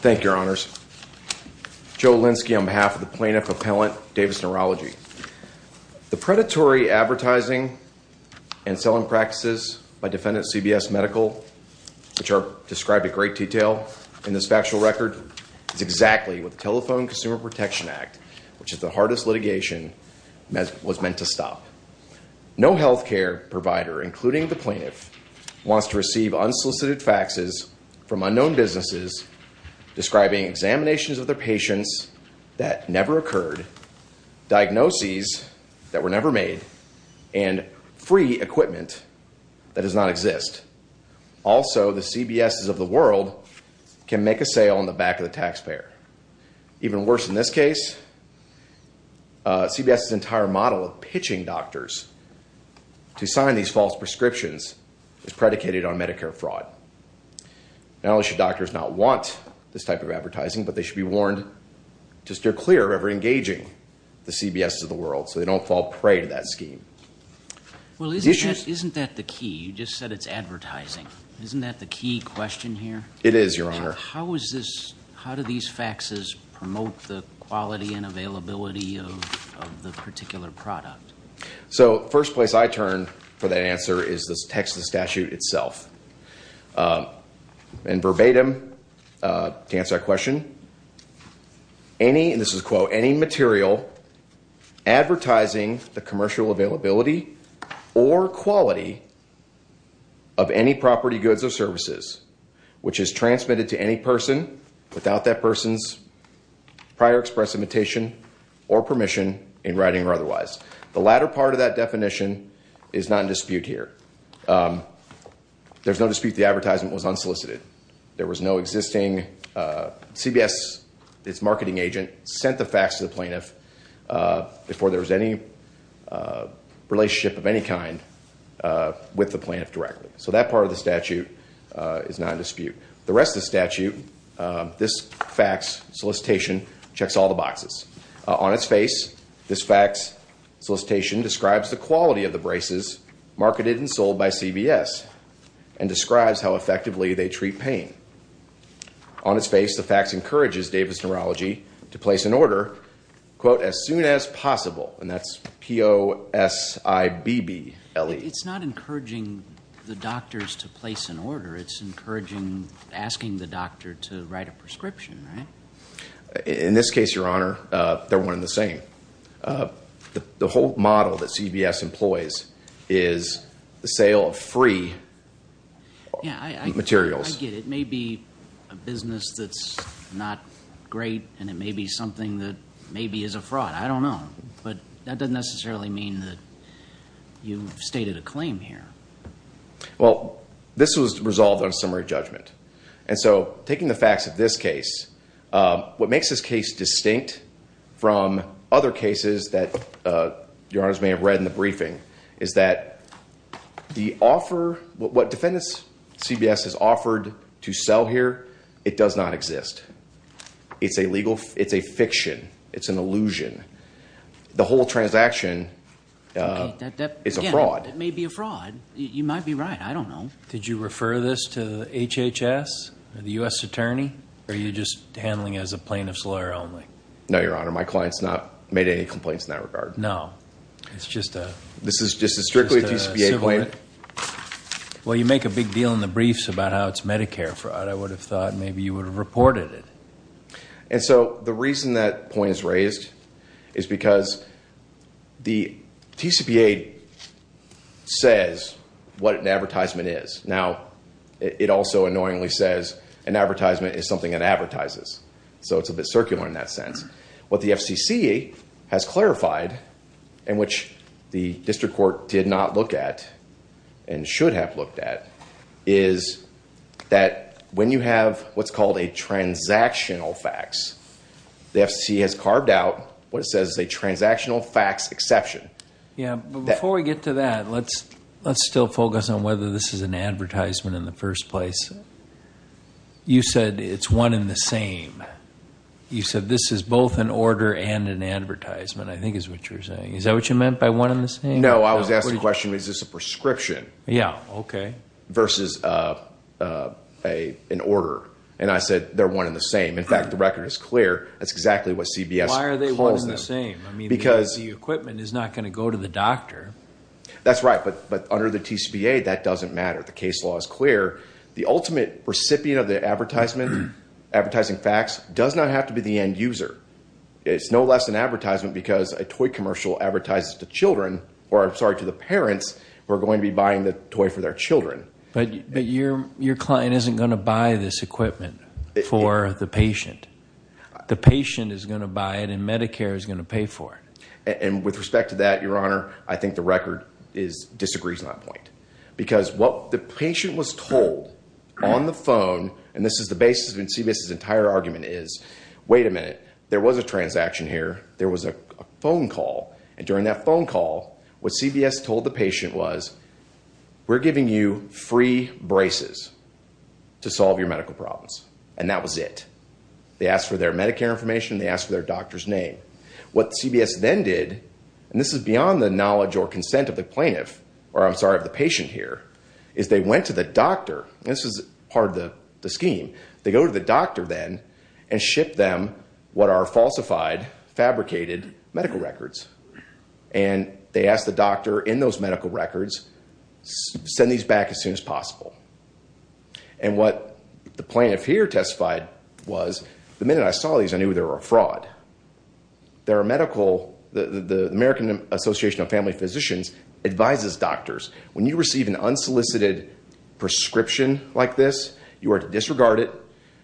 Thank you, Your Honors. Joe Linsky on behalf of the Plaintiff Appellant Davis Neurology. The predatory advertising and selling practices by Defendant CBS Medical, which are described in great detail in this factual record, is exactly what the Telephone Consumer Protection Act, which is the hardest litigation, was meant to stop. No health care provider, including the plaintiff, wants to receive unsolicited faxes from unknown businesses describing examinations of their patients that never occurred, diagnoses that were never made, and free equipment that does not exist. Also, the CBSes of the world can make a sale on the back of the taxpayer. Even worse in this case, CBS's entire model of pitching doctors to sign these false prescriptions is predicated on Medicare fraud. Not only should doctors not want this type of advertising, but they should be warned to steer clear of ever engaging the CBSes of the world so they don't fall prey to that scheme. Well, isn't that the key? You just said it's advertising. Isn't that the key question here? It is, Your Honor. How do these faxes promote the quality and availability of the particular product? So, first place I turn for that answer is the text of the statute itself. And verbatim, to answer that question, any, and this is a quote, any material advertising the commercial availability or quality of any property, goods, or services, which is transmitted to any person without that person's prior express invitation or permission in writing or otherwise. The latter part of that definition is not in dispute here. There's no dispute the advertisement was unsolicited. There was no existing, CBS, its marketing agent, sent the fax to the plaintiff before there was any relationship of any kind with the plaintiff directly. So that part of the statute is not in dispute. The rest of the statute, this fax solicitation checks all the boxes. On its face, this fax solicitation describes the quality of the braces marketed and sold by CBS and describes how effectively they treat pain. On its face, the fax encourages Davis Neurology to place an order, quote, as soon as possible. And that's P-O-S-I-B-B-L-E. It's not encouraging the doctors to place an order. It's encouraging asking the doctor to write a prescription, right? In this case, Your Honor, they're one and the same. The whole model that CBS employs is the sale of free materials. Yeah, I get it. It may be a business that's not great, and it may be something that maybe is a fraud. I don't know. But that doesn't necessarily mean that you've stated a claim here. Well, this was resolved on summary judgment. And so taking the facts of this case, what makes this case distinct from other cases that Your Honors may have read in the briefing is that the offer, what defendants CBS has offered to sell here, it does not exist. It's a fiction. It's an illusion. The whole transaction is a fraud. Again, it may be a fraud. You might be right. I don't know. Did you refer this to HHS or the U.S. Attorney? Or are you just handling it as a plaintiff's lawyer only? No, Your Honor. My client's not made any complaints in that regard. No. It's just a… This is strictly a TCPA claim. Well, you make a big deal in the briefs about how it's Medicare fraud. I would have thought maybe you would have reported it. And so the reason that point is raised is because the TCPA says what an advertisement is. Now, it also annoyingly says an advertisement is something that advertises. So it's a bit circular in that sense. What the FCC has clarified, and which the district court did not look at and should have looked at, is that when you have what's called a transactional fax, the FCC has carved out what it says is a transactional fax exception. Yeah, but before we get to that, let's still focus on whether this is an advertisement in the first place. You said it's one and the same. You said this is both an order and an advertisement, I think is what you're saying. Is that what you meant by one and the same? No, I was asking the question, is this a prescription versus an order? And I said they're one and the same. In fact, the record is clear. That's exactly what CBS calls them. Why are they one and the same? I mean, the equipment is not going to go to the doctor. That's right. But under the TCPA, that doesn't matter. The case law is clear. The ultimate recipient of the advertising fax does not have to be the end user. It's no less an advertisement because a toy commercial advertises to children, or I'm sorry, to the parents who are going to be buying the toy for their children. But your client isn't going to buy this equipment for the patient. The patient is going to buy it, and Medicare is going to pay for it. And with respect to that, Your Honor, I think the record disagrees on that point. Because what the patient was told on the phone, and this is the basis of when CBS's entire argument is, wait a minute. There was a transaction here. There was a phone call. And during that phone call, what CBS told the patient was, we're giving you free braces to solve your medical problems. And that was it. They asked for their Medicare information. They asked for their doctor's name. What CBS then did, and this is beyond the knowledge or consent of the plaintiff, or I'm sorry, of the patient here, is they went to the doctor. This is part of the scheme. They go to the doctor then and ship them what are falsified, fabricated medical records. And they ask the doctor in those medical records, send these back as soon as possible. And what the plaintiff here testified was, the minute I saw these, I knew they were a fraud. There are medical, the American Association of Family Physicians advises doctors, when you receive an unsolicited prescription like this, you are to disregard it.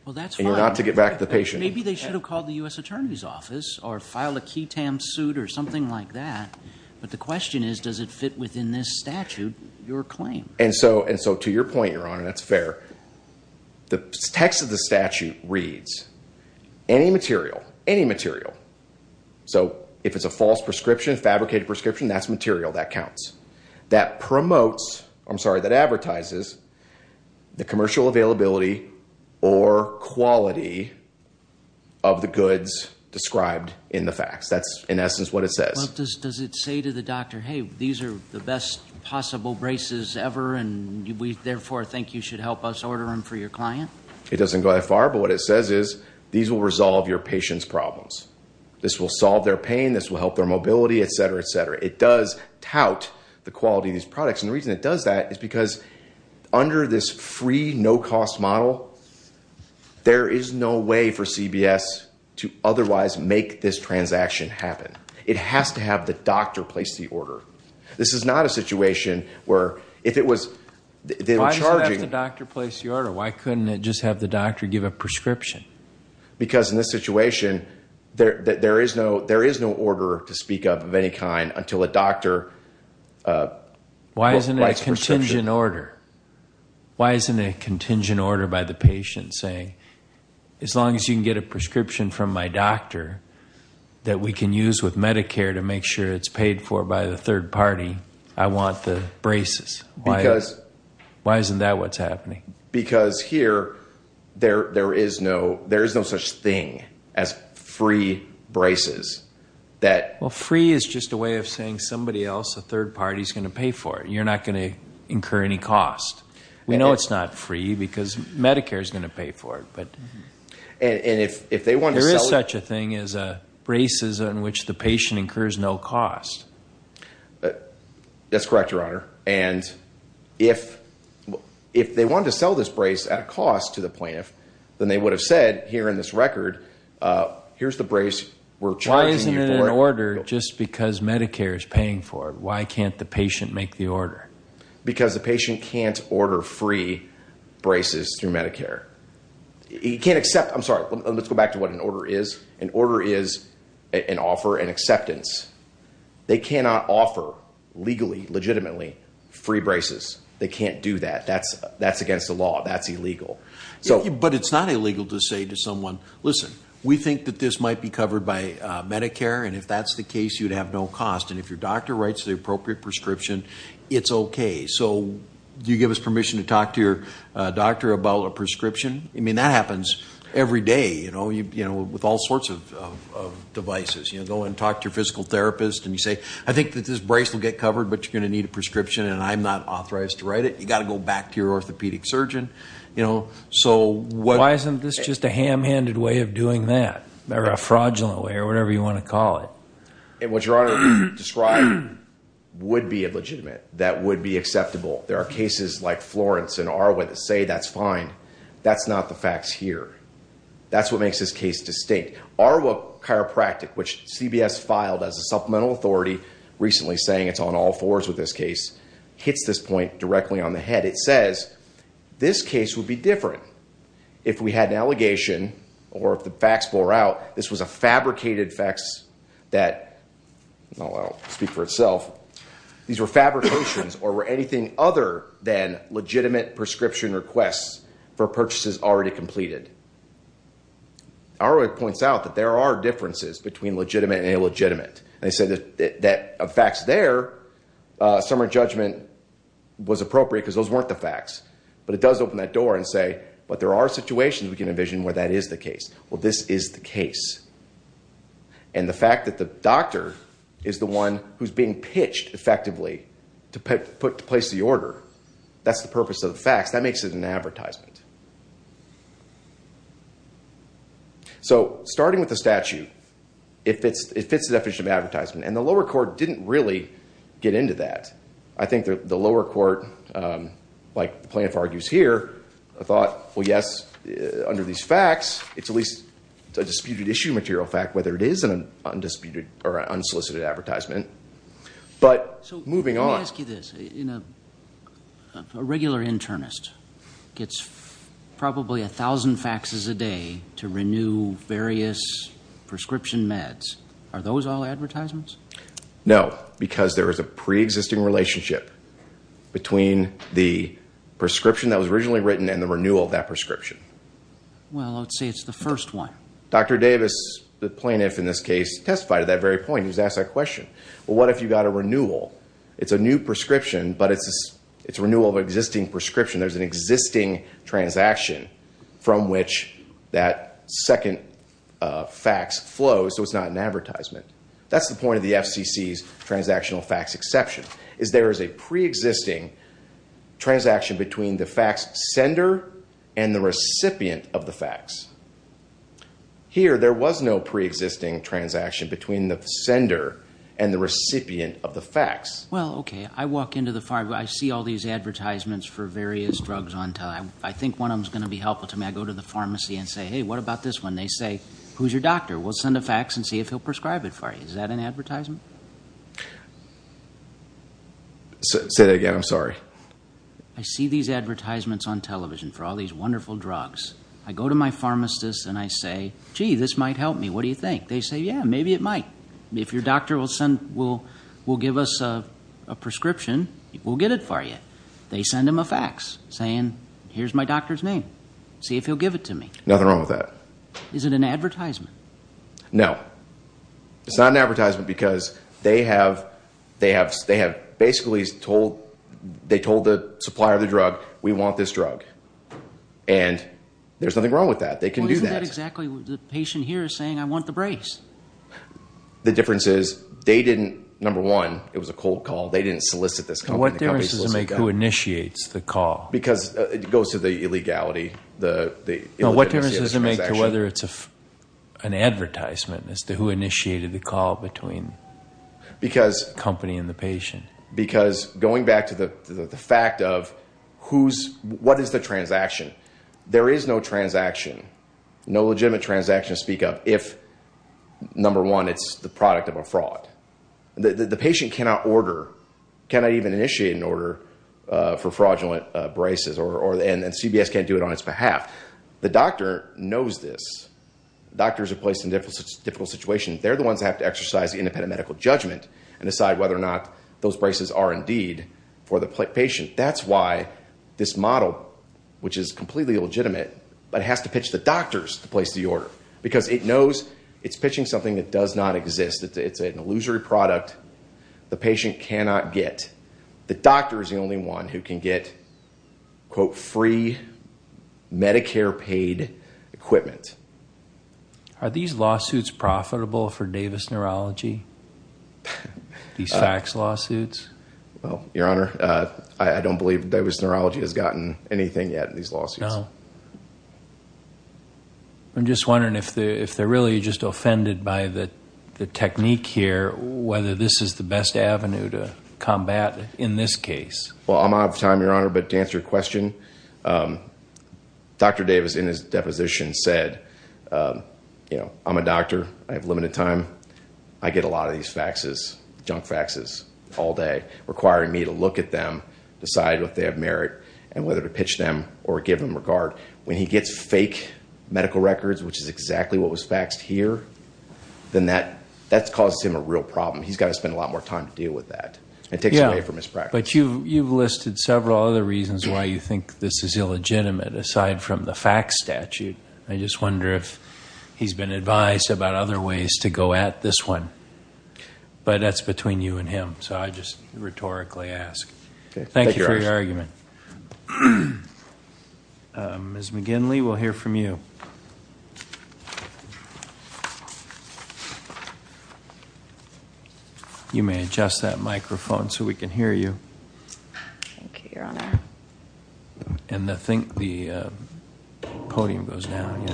Well, that's fine. And you're not to get back to the patient. Maybe they should have called the U.S. Attorney's Office or filed a key tam suit or something like that. But the question is, does it fit within this statute, your claim? And so to your point, Your Honor, that's fair. The text of the statute reads, any material, any material. So if it's a false prescription, fabricated prescription, that's material. That counts. That promotes, I'm sorry, that advertises the commercial availability or quality of the goods described in the facts. That's, in essence, what it says. Does it say to the doctor, hey, these are the best possible braces ever, and we therefore think you should help us order them for your client? It doesn't go that far. But what it says is, these will resolve your patient's problems. This will solve their pain. This will help their mobility, et cetera, et cetera. It does tout the quality of these products. And the reason it does that is because under this free, no-cost model, there is no way for CBS to otherwise make this transaction happen. It has to have the doctor place the order. This is not a situation where if it was charging. Why does it have to have the doctor place the order? Why couldn't it just have the doctor give a prescription? Because in this situation, there is no order to speak of of any kind until a doctor places a prescription. Why isn't it a contingent order? Why isn't it a contingent order by the patient saying, as long as you can get a prescription from my doctor that we can use with Medicare to make sure it's paid for by the third party, I want the braces? Why isn't that what's happening? Because here, there is no such thing as free braces. Well, free is just a way of saying somebody else, a third party, is going to pay for it. You're not going to incur any cost. We know it's not free because Medicare is going to pay for it. There is such a thing as braces on which the patient incurs no cost. That's correct, Your Honor. And if they wanted to sell this brace at a cost to the plaintiff, then they would have said here in this record, here's the brace we're charging you for. Why isn't it an order just because Medicare is paying for it? Why can't the patient make the order? Because the patient can't order free braces through Medicare. He can't accept, I'm sorry, let's go back to what an order is. An order is an offer, an acceptance. They cannot offer legally, legitimately, free braces. They can't do that. That's against the law. That's illegal. But it's not illegal to say to someone, listen, we think that this might be covered by Medicare, and if that's the case, you'd have no cost. And if your doctor writes the appropriate prescription, it's okay. So do you give us permission to talk to your doctor about a prescription? I mean, that happens every day, you know, with all sorts of devices. You go and talk to your physical therapist and you say, I think that this brace will get covered, but you're going to need a prescription, and I'm not authorized to write it. You've got to go back to your orthopedic surgeon. Why isn't this just a ham-handed way of doing that, or a fraudulent way or whatever you want to call it? And what Your Honor described would be illegitimate. That would be acceptable. There are cases like Florence and Arwa that say that's fine. That's not the facts here. That's what makes this case distinct. Arwa Chiropractic, which CBS filed as a supplemental authority, recently saying it's on all fours with this case, hits this point directly on the head. It says this case would be different if we had an allegation or if the facts bore out this was a fabricated facts that, I'll speak for itself, these were fabrications or were anything other than legitimate prescription requests for purchases already completed. Arwa points out that there are differences between legitimate and illegitimate. They said that of facts there, summary judgment was appropriate because those weren't the facts. But it does open that door and say, but there are situations we can envision where that is the case. Well, this is the case. And the fact that the doctor is the one who's being pitched effectively to place the order, that's the purpose of the facts. That makes it an advertisement. So starting with the statute, it fits the definition of advertisement. And the lower court didn't really get into that. I think the lower court, like the plaintiff argues here, thought, well, yes, under these facts, it's at least a disputed issue material fact, whether it is an undisputed or unsolicited advertisement. But moving on... So let me ask you this. A regular internist gets probably 1,000 faxes a day to renew various prescription meds. Are those all advertisements? No, because there is a preexisting relationship between the prescription that was originally written and the renewal of that prescription. Well, let's say it's the first one. Dr. Davis, the plaintiff in this case, testified to that very point. He was asked that question. Well, what if you got a renewal? It's a new prescription, but it's a renewal of an existing prescription. There's an existing transaction from which that second fax flows, so it's not an advertisement. That's the point of the FCC's transactional fax exception, is there is a preexisting transaction between the fax sender and the recipient of the fax. Here, there was no preexisting transaction between the sender and the recipient of the fax. Well, okay, I walk into the pharmacy, I see all these advertisements for various drugs. I think one of them is going to be helpful to me. I go to the pharmacy and say, hey, what about this one? They say, who's your doctor? We'll send a fax and see if he'll prescribe it for you. Is that an advertisement? Say that again, I'm sorry. I see these advertisements on television for all these wonderful drugs. I go to my pharmacist and I say, gee, this might help me. What do you think? They say, yeah, maybe it might. If your doctor will give us a prescription, we'll get it for you. They send him a fax saying, here's my doctor's name. See if he'll give it to me. Nothing wrong with that. Is it an advertisement? No. It's not an advertisement because they have basically told the supplier of the drug, we want this drug. And there's nothing wrong with that. They can do that. Well, isn't that exactly what the patient here is saying? I want the brace. The difference is they didn't, number one, it was a cold call. They didn't solicit this company. What difference does it make who initiates the call? Because it goes to the illegality. No, what difference does it make to whether it's an advertisement as to who initiated the call between the company and the patient? Because going back to the fact of what is the transaction, there is no transaction, no legitimate transaction to speak of, if, number one, it's the product of a fraud. The patient cannot order, cannot even initiate an order for fraudulent braces. And CBS can't do it on its behalf. The doctor knows this. Doctors are placed in difficult situations. They're the ones that have to exercise independent medical judgment and decide whether or not those braces are indeed for the patient. That's why this model, which is completely illegitimate, but it has to pitch the doctors to place the order because it knows it's pitching something that does not exist. It's an illusory product the patient cannot get. The doctor is the only one who can get, quote, free Medicare-paid equipment. Are these lawsuits profitable for Davis Neurology, these fax lawsuits? Well, Your Honor, I don't believe Davis Neurology has gotten anything yet in these lawsuits. No. I'm just wondering if they're really just offended by the technique here, whether this is the best avenue to combat in this case. Well, I'm out of time, Your Honor, but to answer your question, Dr. Davis in his deposition said, you know, I'm a doctor. I have limited time. I get a lot of these faxes, junk faxes, all day, requiring me to look at them, decide what they have merit, and whether to pitch them or give them regard. When he gets fake medical records, which is exactly what was faxed here, then that causes him a real problem. He's got to spend a lot more time to deal with that. It takes away from his practice. Yeah, but you've listed several other reasons why you think this is illegitimate aside from the fax statute. I just wonder if he's been advised about other ways to go at this one. But that's between you and him, so I just rhetorically ask. Thank you for your argument. Ms. McGinley, we'll hear from you. You may adjust that microphone so we can hear you. Thank you, Your Honor. And I think the podium goes down.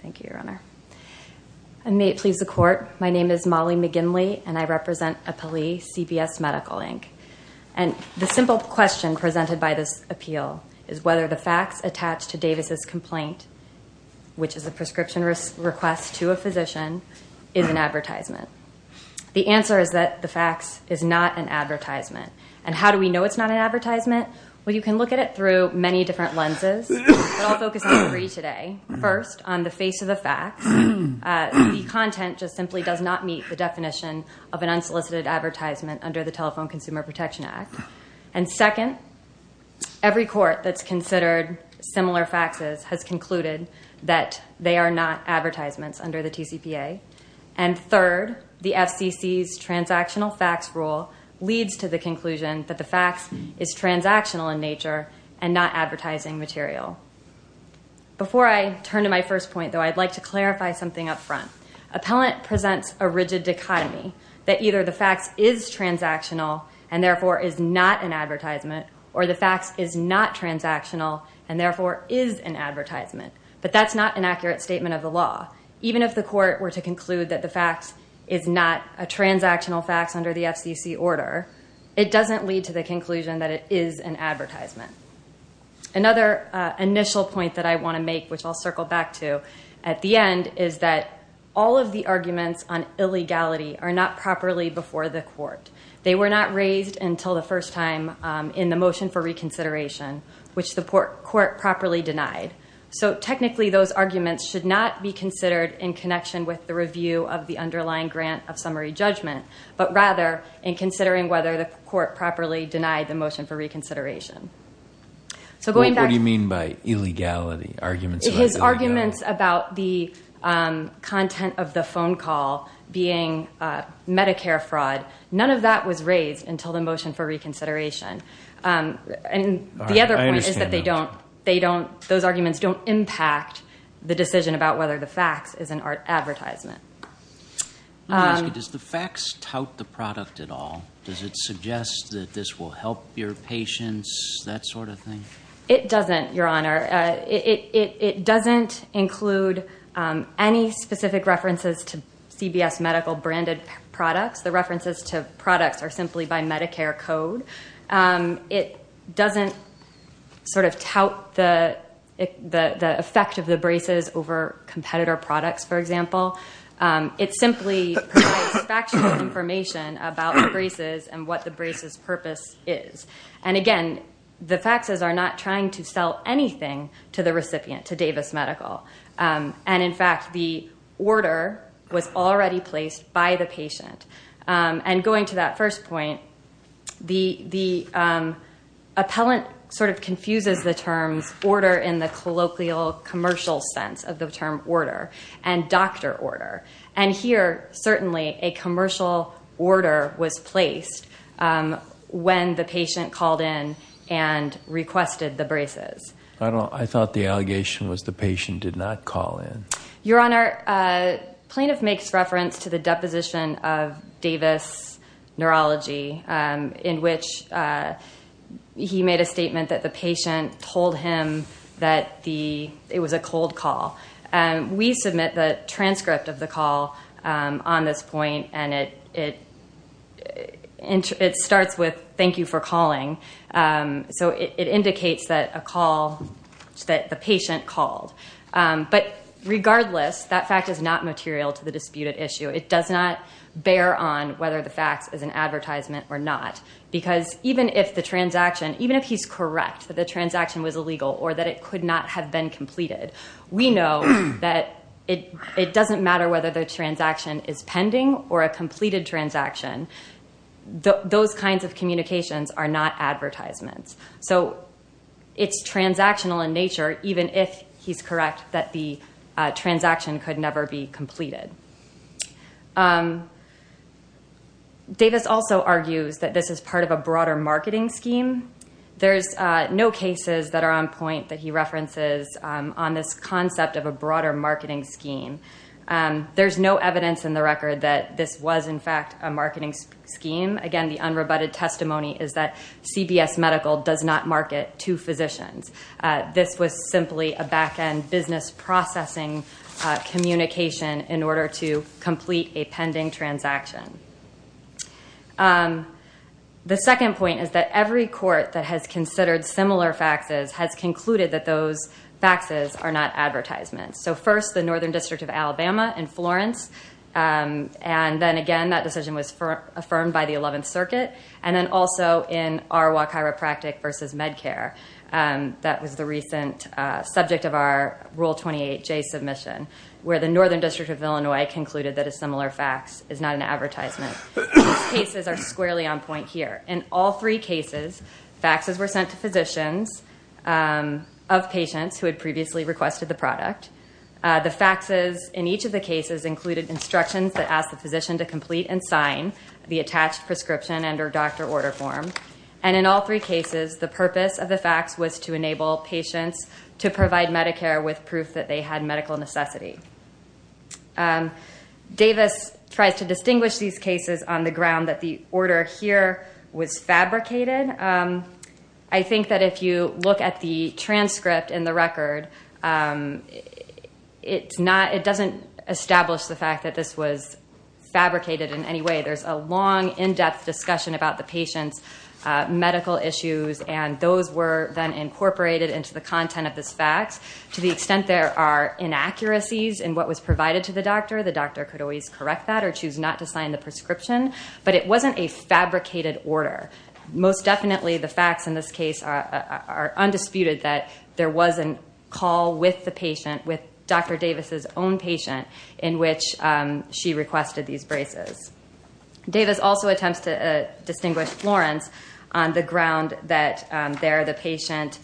Thank you, Your Honor. And may it please the Court, my name is Molly McGinley, and I represent EPALI, CBS Medical, Inc. The simple question presented by this appeal is whether the fax attached to Davis' complaint, which is a prescription request to a physician, is an advertisement. The answer is that the fax is not an advertisement. And how do we know it's not an advertisement? Well, you can look at it through many different lenses, but I'll focus on three today. First, on the face of the fax, the content just simply does not meet the definition of an unsolicited advertisement under the Telephone Consumer Protection Act. And second, every court that's considered similar faxes has concluded that they are not advertisements under the TCPA. And third, the FCC's transactional fax rule leads to the conclusion that the fax is transactional in nature and not advertising material. Before I turn to my first point, though, I'd like to clarify something up front. Appellant presents a rigid dichotomy that either the fax is transactional and therefore is not an advertisement, or the fax is not transactional and therefore is an advertisement. But that's not an accurate statement of the law. Even if the court were to conclude that the fax is not a transactional fax under the FCC order, it doesn't lead to the conclusion that it is an advertisement. Another initial point that I want to make, which I'll circle back to, at the end is that all of the arguments on illegality are not properly before the court. They were not raised until the first time in the motion for reconsideration, which the court properly denied. So, technically, those arguments should not be considered in connection with the review of the underlying grant of summary judgment, but rather in considering whether the court properly denied the motion for reconsideration. What do you mean by illegality? His arguments about the content of the phone call being Medicare fraud, none of that was raised until the motion for reconsideration. And the other point is that those arguments don't impact the decision about whether the fax is an advertisement. Let me ask you, does the fax tout the product at all? Does it suggest that this will help your patients, that sort of thing? It doesn't, Your Honor. It doesn't include any specific references to CBS Medical branded products. The references to products are simply by Medicare code. It doesn't sort of tout the effect of the braces over competitor products, for example. It simply provides factual information about the braces and what the braces purpose is. And, again, the faxes are not trying to sell anything to the recipient, to Davis Medical. And, in fact, the order was already placed by the patient. And going to that first point, the appellant sort of confuses the terms order in the colloquial commercial sense of the term order and doctor order. And here, certainly, a commercial order was placed when the patient called in and requested the braces. I thought the allegation was the patient did not call in. Your Honor, plaintiff makes reference to the deposition of Davis Neurology, in which he made a statement that the patient told him that it was a cold call. We submit the transcript of the call on this point, and it starts with, thank you for calling. So it indicates that a call, that the patient called. But, regardless, that fact is not material to the disputed issue. It does not bear on whether the fax is an advertisement or not. Because even if the transaction, even if he's correct that the transaction was illegal or that it could not have been completed, we know that it doesn't matter whether the transaction is pending or a completed transaction. Those kinds of communications are not advertisements. So it's transactional in nature, even if he's correct that the transaction could never be completed. Davis also argues that this is part of a broader marketing scheme. There's no cases that are on point that he references on this concept of a broader marketing scheme. There's no evidence in the record that this was, in fact, a marketing scheme. Again, the unrebutted testimony is that CBS Medical does not market to physicians. This was simply a back-end business processing communication in order to complete a pending transaction. The second point is that every court that has considered similar faxes has concluded that those faxes are not advertisements. So, first, the Northern District of Alabama in Florence. And then, again, that decision was affirmed by the 11th Circuit. And then also in our WAC Chiropractic versus MedCare. That was the recent subject of our Rule 28J submission, where the Northern These cases are squarely on point here. In all three cases, faxes were sent to physicians of patients who had previously requested the product. The faxes in each of the cases included instructions that asked the physician to complete and sign the attached prescription under doctor order form. And in all three cases, the purpose of the fax was to enable patients to provide Medicare with proof that they had medical necessity. Davis tries to distinguish these cases on the ground that the order here was fabricated. I think that if you look at the transcript in the record, it doesn't establish the fact that this was fabricated in any way. There's a long, in-depth discussion about the patient's medical issues, and those were then incorporated into the content of this fax. To the extent there are inaccuracies in what was provided to the doctor, the doctor could always correct that or choose not to sign the prescription. But it wasn't a fabricated order. Most definitely, the facts in this case are undisputed that there was a call with the patient, with Dr. Davis's own patient, in which she requested these braces. Davis also attempts to distinguish Florence on the ground that there the patient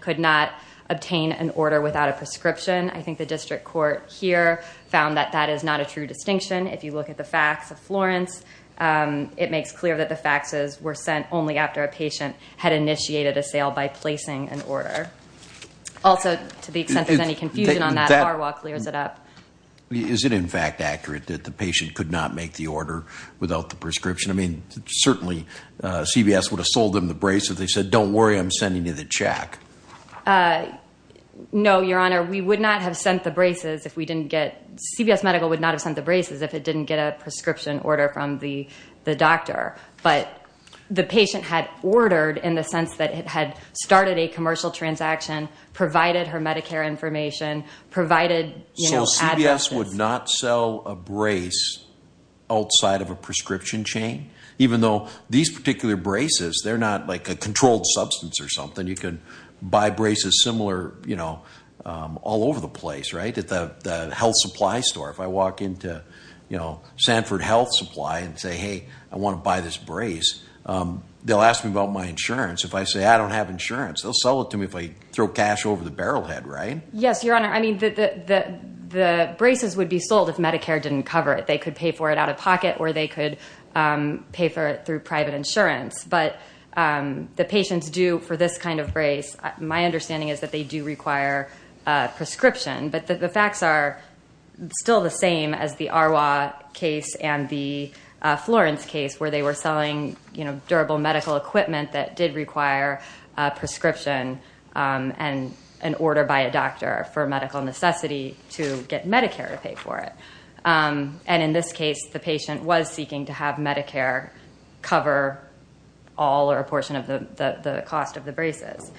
could not obtain an order without a prescription. I think the district court here found that that is not a true distinction. If you look at the fax of Florence, it makes clear that the faxes were sent only after a patient had initiated a sale by placing an order. Also, to the extent there's any confusion on that, Arwa clears it up. Is it, in fact, accurate that the patient could not make the order without the prescription? I mean, certainly, CVS would have sold them the braces. If they said, don't worry, I'm sending you the check. No, Your Honor, we would not have sent the braces if we didn't get, CVS Medical would not have sent the braces if it didn't get a prescription order from the doctor. But the patient had ordered in the sense that it had started a commercial transaction, provided her Medicare information, provided, you know, addresses. So CVS would not sell a brace outside of a prescription chain? Even though these particular braces, they're not like a controlled substance or something. You can buy braces similar, you know, all over the place, right, at the health supply store. If I walk into, you know, Sanford Health Supply and say, hey, I want to buy this brace, they'll ask me about my insurance. If I say I don't have insurance, they'll sell it to me if I throw cash over the barrel head, right? Yes, Your Honor. I mean, the braces would be sold if Medicare didn't cover it. They could pay for it out of pocket or they could pay for it through private insurance. But the patients do, for this kind of brace, my understanding is that they do require a prescription. But the facts are still the same as the Arwa case and the Florence case where they were selling, you know, durable medical equipment that did require a prescription and an order by a doctor for medical necessity to get Medicare to pay for it. And in this case, the patient was seeking to have Medicare cover all or a portion of the cost of the braces.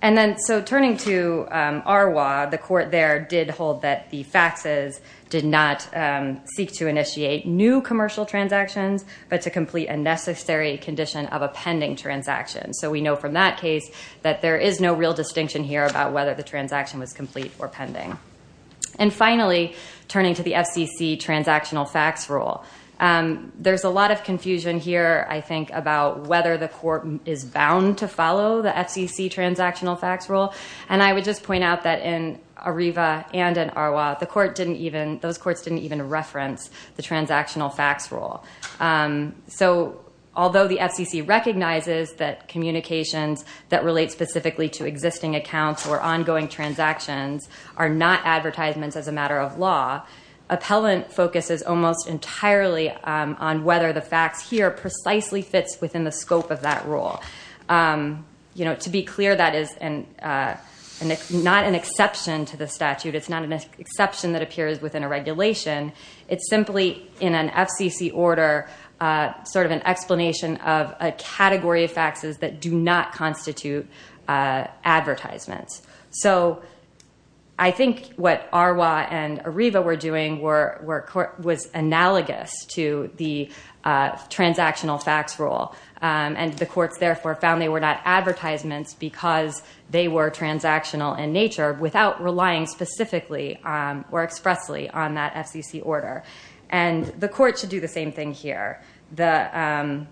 And then so turning to Arwa, the court there did hold that the faxes did not seek to initiate new commercial transactions but to complete a necessary condition of a pending transaction. So we know from that case that there is no real distinction here about whether the transaction was complete or pending. And finally, turning to the FCC transactional fax rule, there's a lot of confusion here, I think, about whether the court is bound to follow the FCC transactional fax rule. And I would just point out that in ARIVA and in Arwa, the court didn't even – those courts didn't even reference the transactional fax rule. So although the FCC recognizes that communications that relate specifically to existing accounts or ongoing transactions are not advertisements as a matter of law, appellant focuses almost entirely on whether the fax here precisely fits within the scope of that rule. You know, to be clear, that is not an exception to the statute. It's not an exception that appears within a regulation. It's simply in an FCC order sort of an explanation of a category of faxes that do not constitute advertisements. So I think what Arwa and ARIVA were doing was analogous to the transactional fax rule. And the courts, therefore, found they were not advertisements because they were transactional in nature without relying specifically or expressly on that FCC order. And the court should do the same thing here. The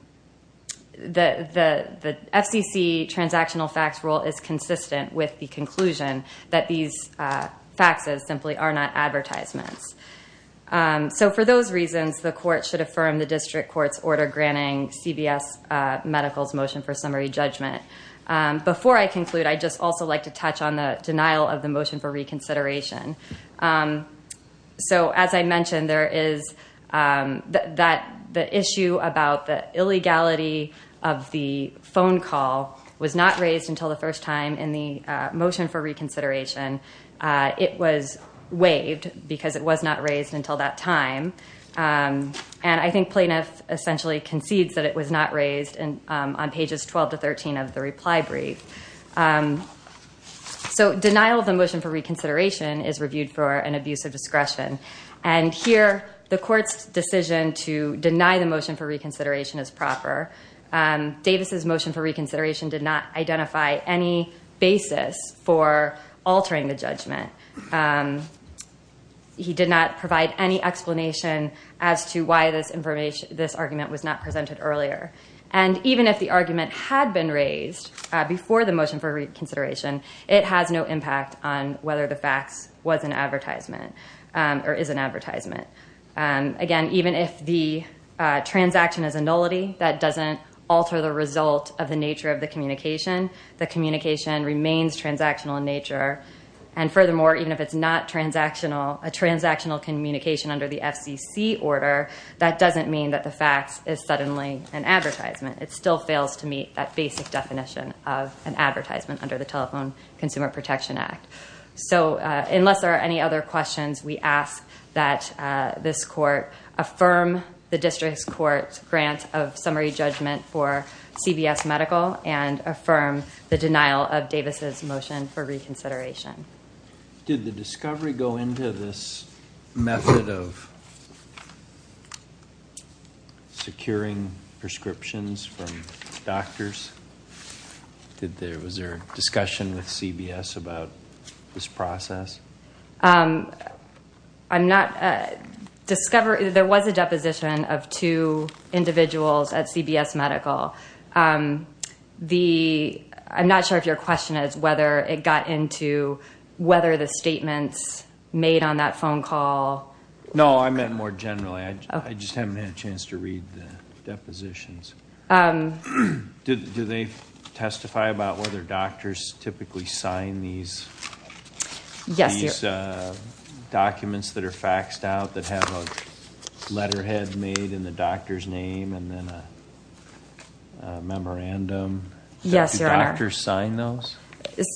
FCC transactional fax rule is consistent with the conclusion that these faxes simply are not advertisements. So for those reasons, the court should affirm the district court's order granting CBS Medical's motion for summary judgment. Before I conclude, I'd just also like to touch on the denial of the motion for reconsideration. So as I mentioned, there is the issue about the illegality of the phone call was not raised until the first time in the motion for reconsideration. It was waived because it was not raised until that time. And I think plaintiff essentially concedes that it was not raised on pages 12 to 13 of the reply brief. So denial of the motion for reconsideration is reviewed for an abuse of discretion. And here, the court's decision to deny the motion for reconsideration is proper. Davis's motion for reconsideration did not identify any basis for altering the judgment. He did not provide any explanation as to why this argument was not presented earlier. And even if the argument had been raised before the motion for reconsideration, it has no impact on whether the fax was an advertisement or is an advertisement. Again, even if the transaction is a nullity, that doesn't alter the result of the nature of the communication. The communication remains transactional in nature. And furthermore, even if it's not transactional, a transactional communication under the FCC order, that doesn't mean that the fax is an advertisement. It still fails to meet that basic definition of an advertisement under the Telephone Consumer Protection Act. So unless there are any other questions, we ask that this court affirm the district's court's grant of summary judgment for CBS Medical and affirm the denial of Davis's motion for reconsideration. Did the discovery go into this method of securing prescriptions from doctors? Was there a discussion with CBS about this process? I'm not – there was a deposition of two individuals at CBS Medical. The – I'm not sure if your question is whether it got into whether the statements made on that phone call. No, I meant more generally. I just haven't had a chance to read the depositions. Do they testify about whether doctors typically sign these documents that are memorandum? Yes, Your Honor. Do doctors sign those?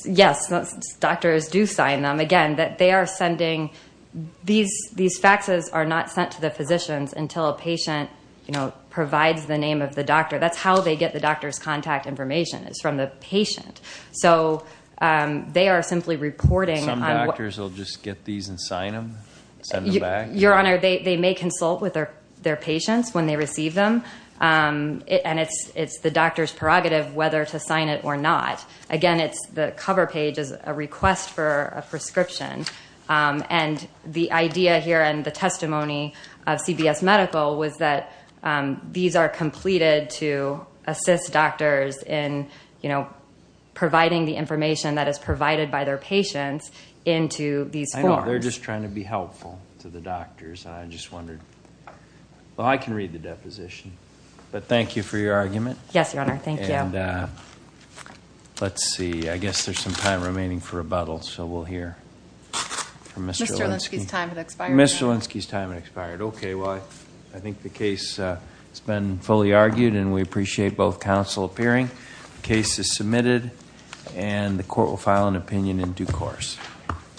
Yes, doctors do sign them. Again, that they are sending – these faxes are not sent to the physicians until a patient, you know, provides the name of the doctor. That's how they get the doctor's contact information is from the patient. So they are simply reporting on what – Some doctors will just get these and sign them, send them back? Your Honor, they may consult with their patients when they receive them. And it's the doctor's prerogative whether to sign it or not. Again, it's the cover page is a request for a prescription. And the idea here and the testimony of CBS Medical was that these are completed to assist doctors in, you know, providing the information that is provided by their patients into these forms. I know. They're just trying to be helpful to the doctors. And I just wondered – well, I can read the deposition. But thank you for your argument. Yes, Your Honor. Thank you. And let's see. I guess there's some time remaining for rebuttal. So we'll hear from Mr. Olinsky. Mr. Olinsky's time has expired. Mr. Olinsky's time has expired. Okay. Well, I think the case has been fully argued. And we appreciate both counsel appearing. The case is submitted. And the court will file an opinion in due course.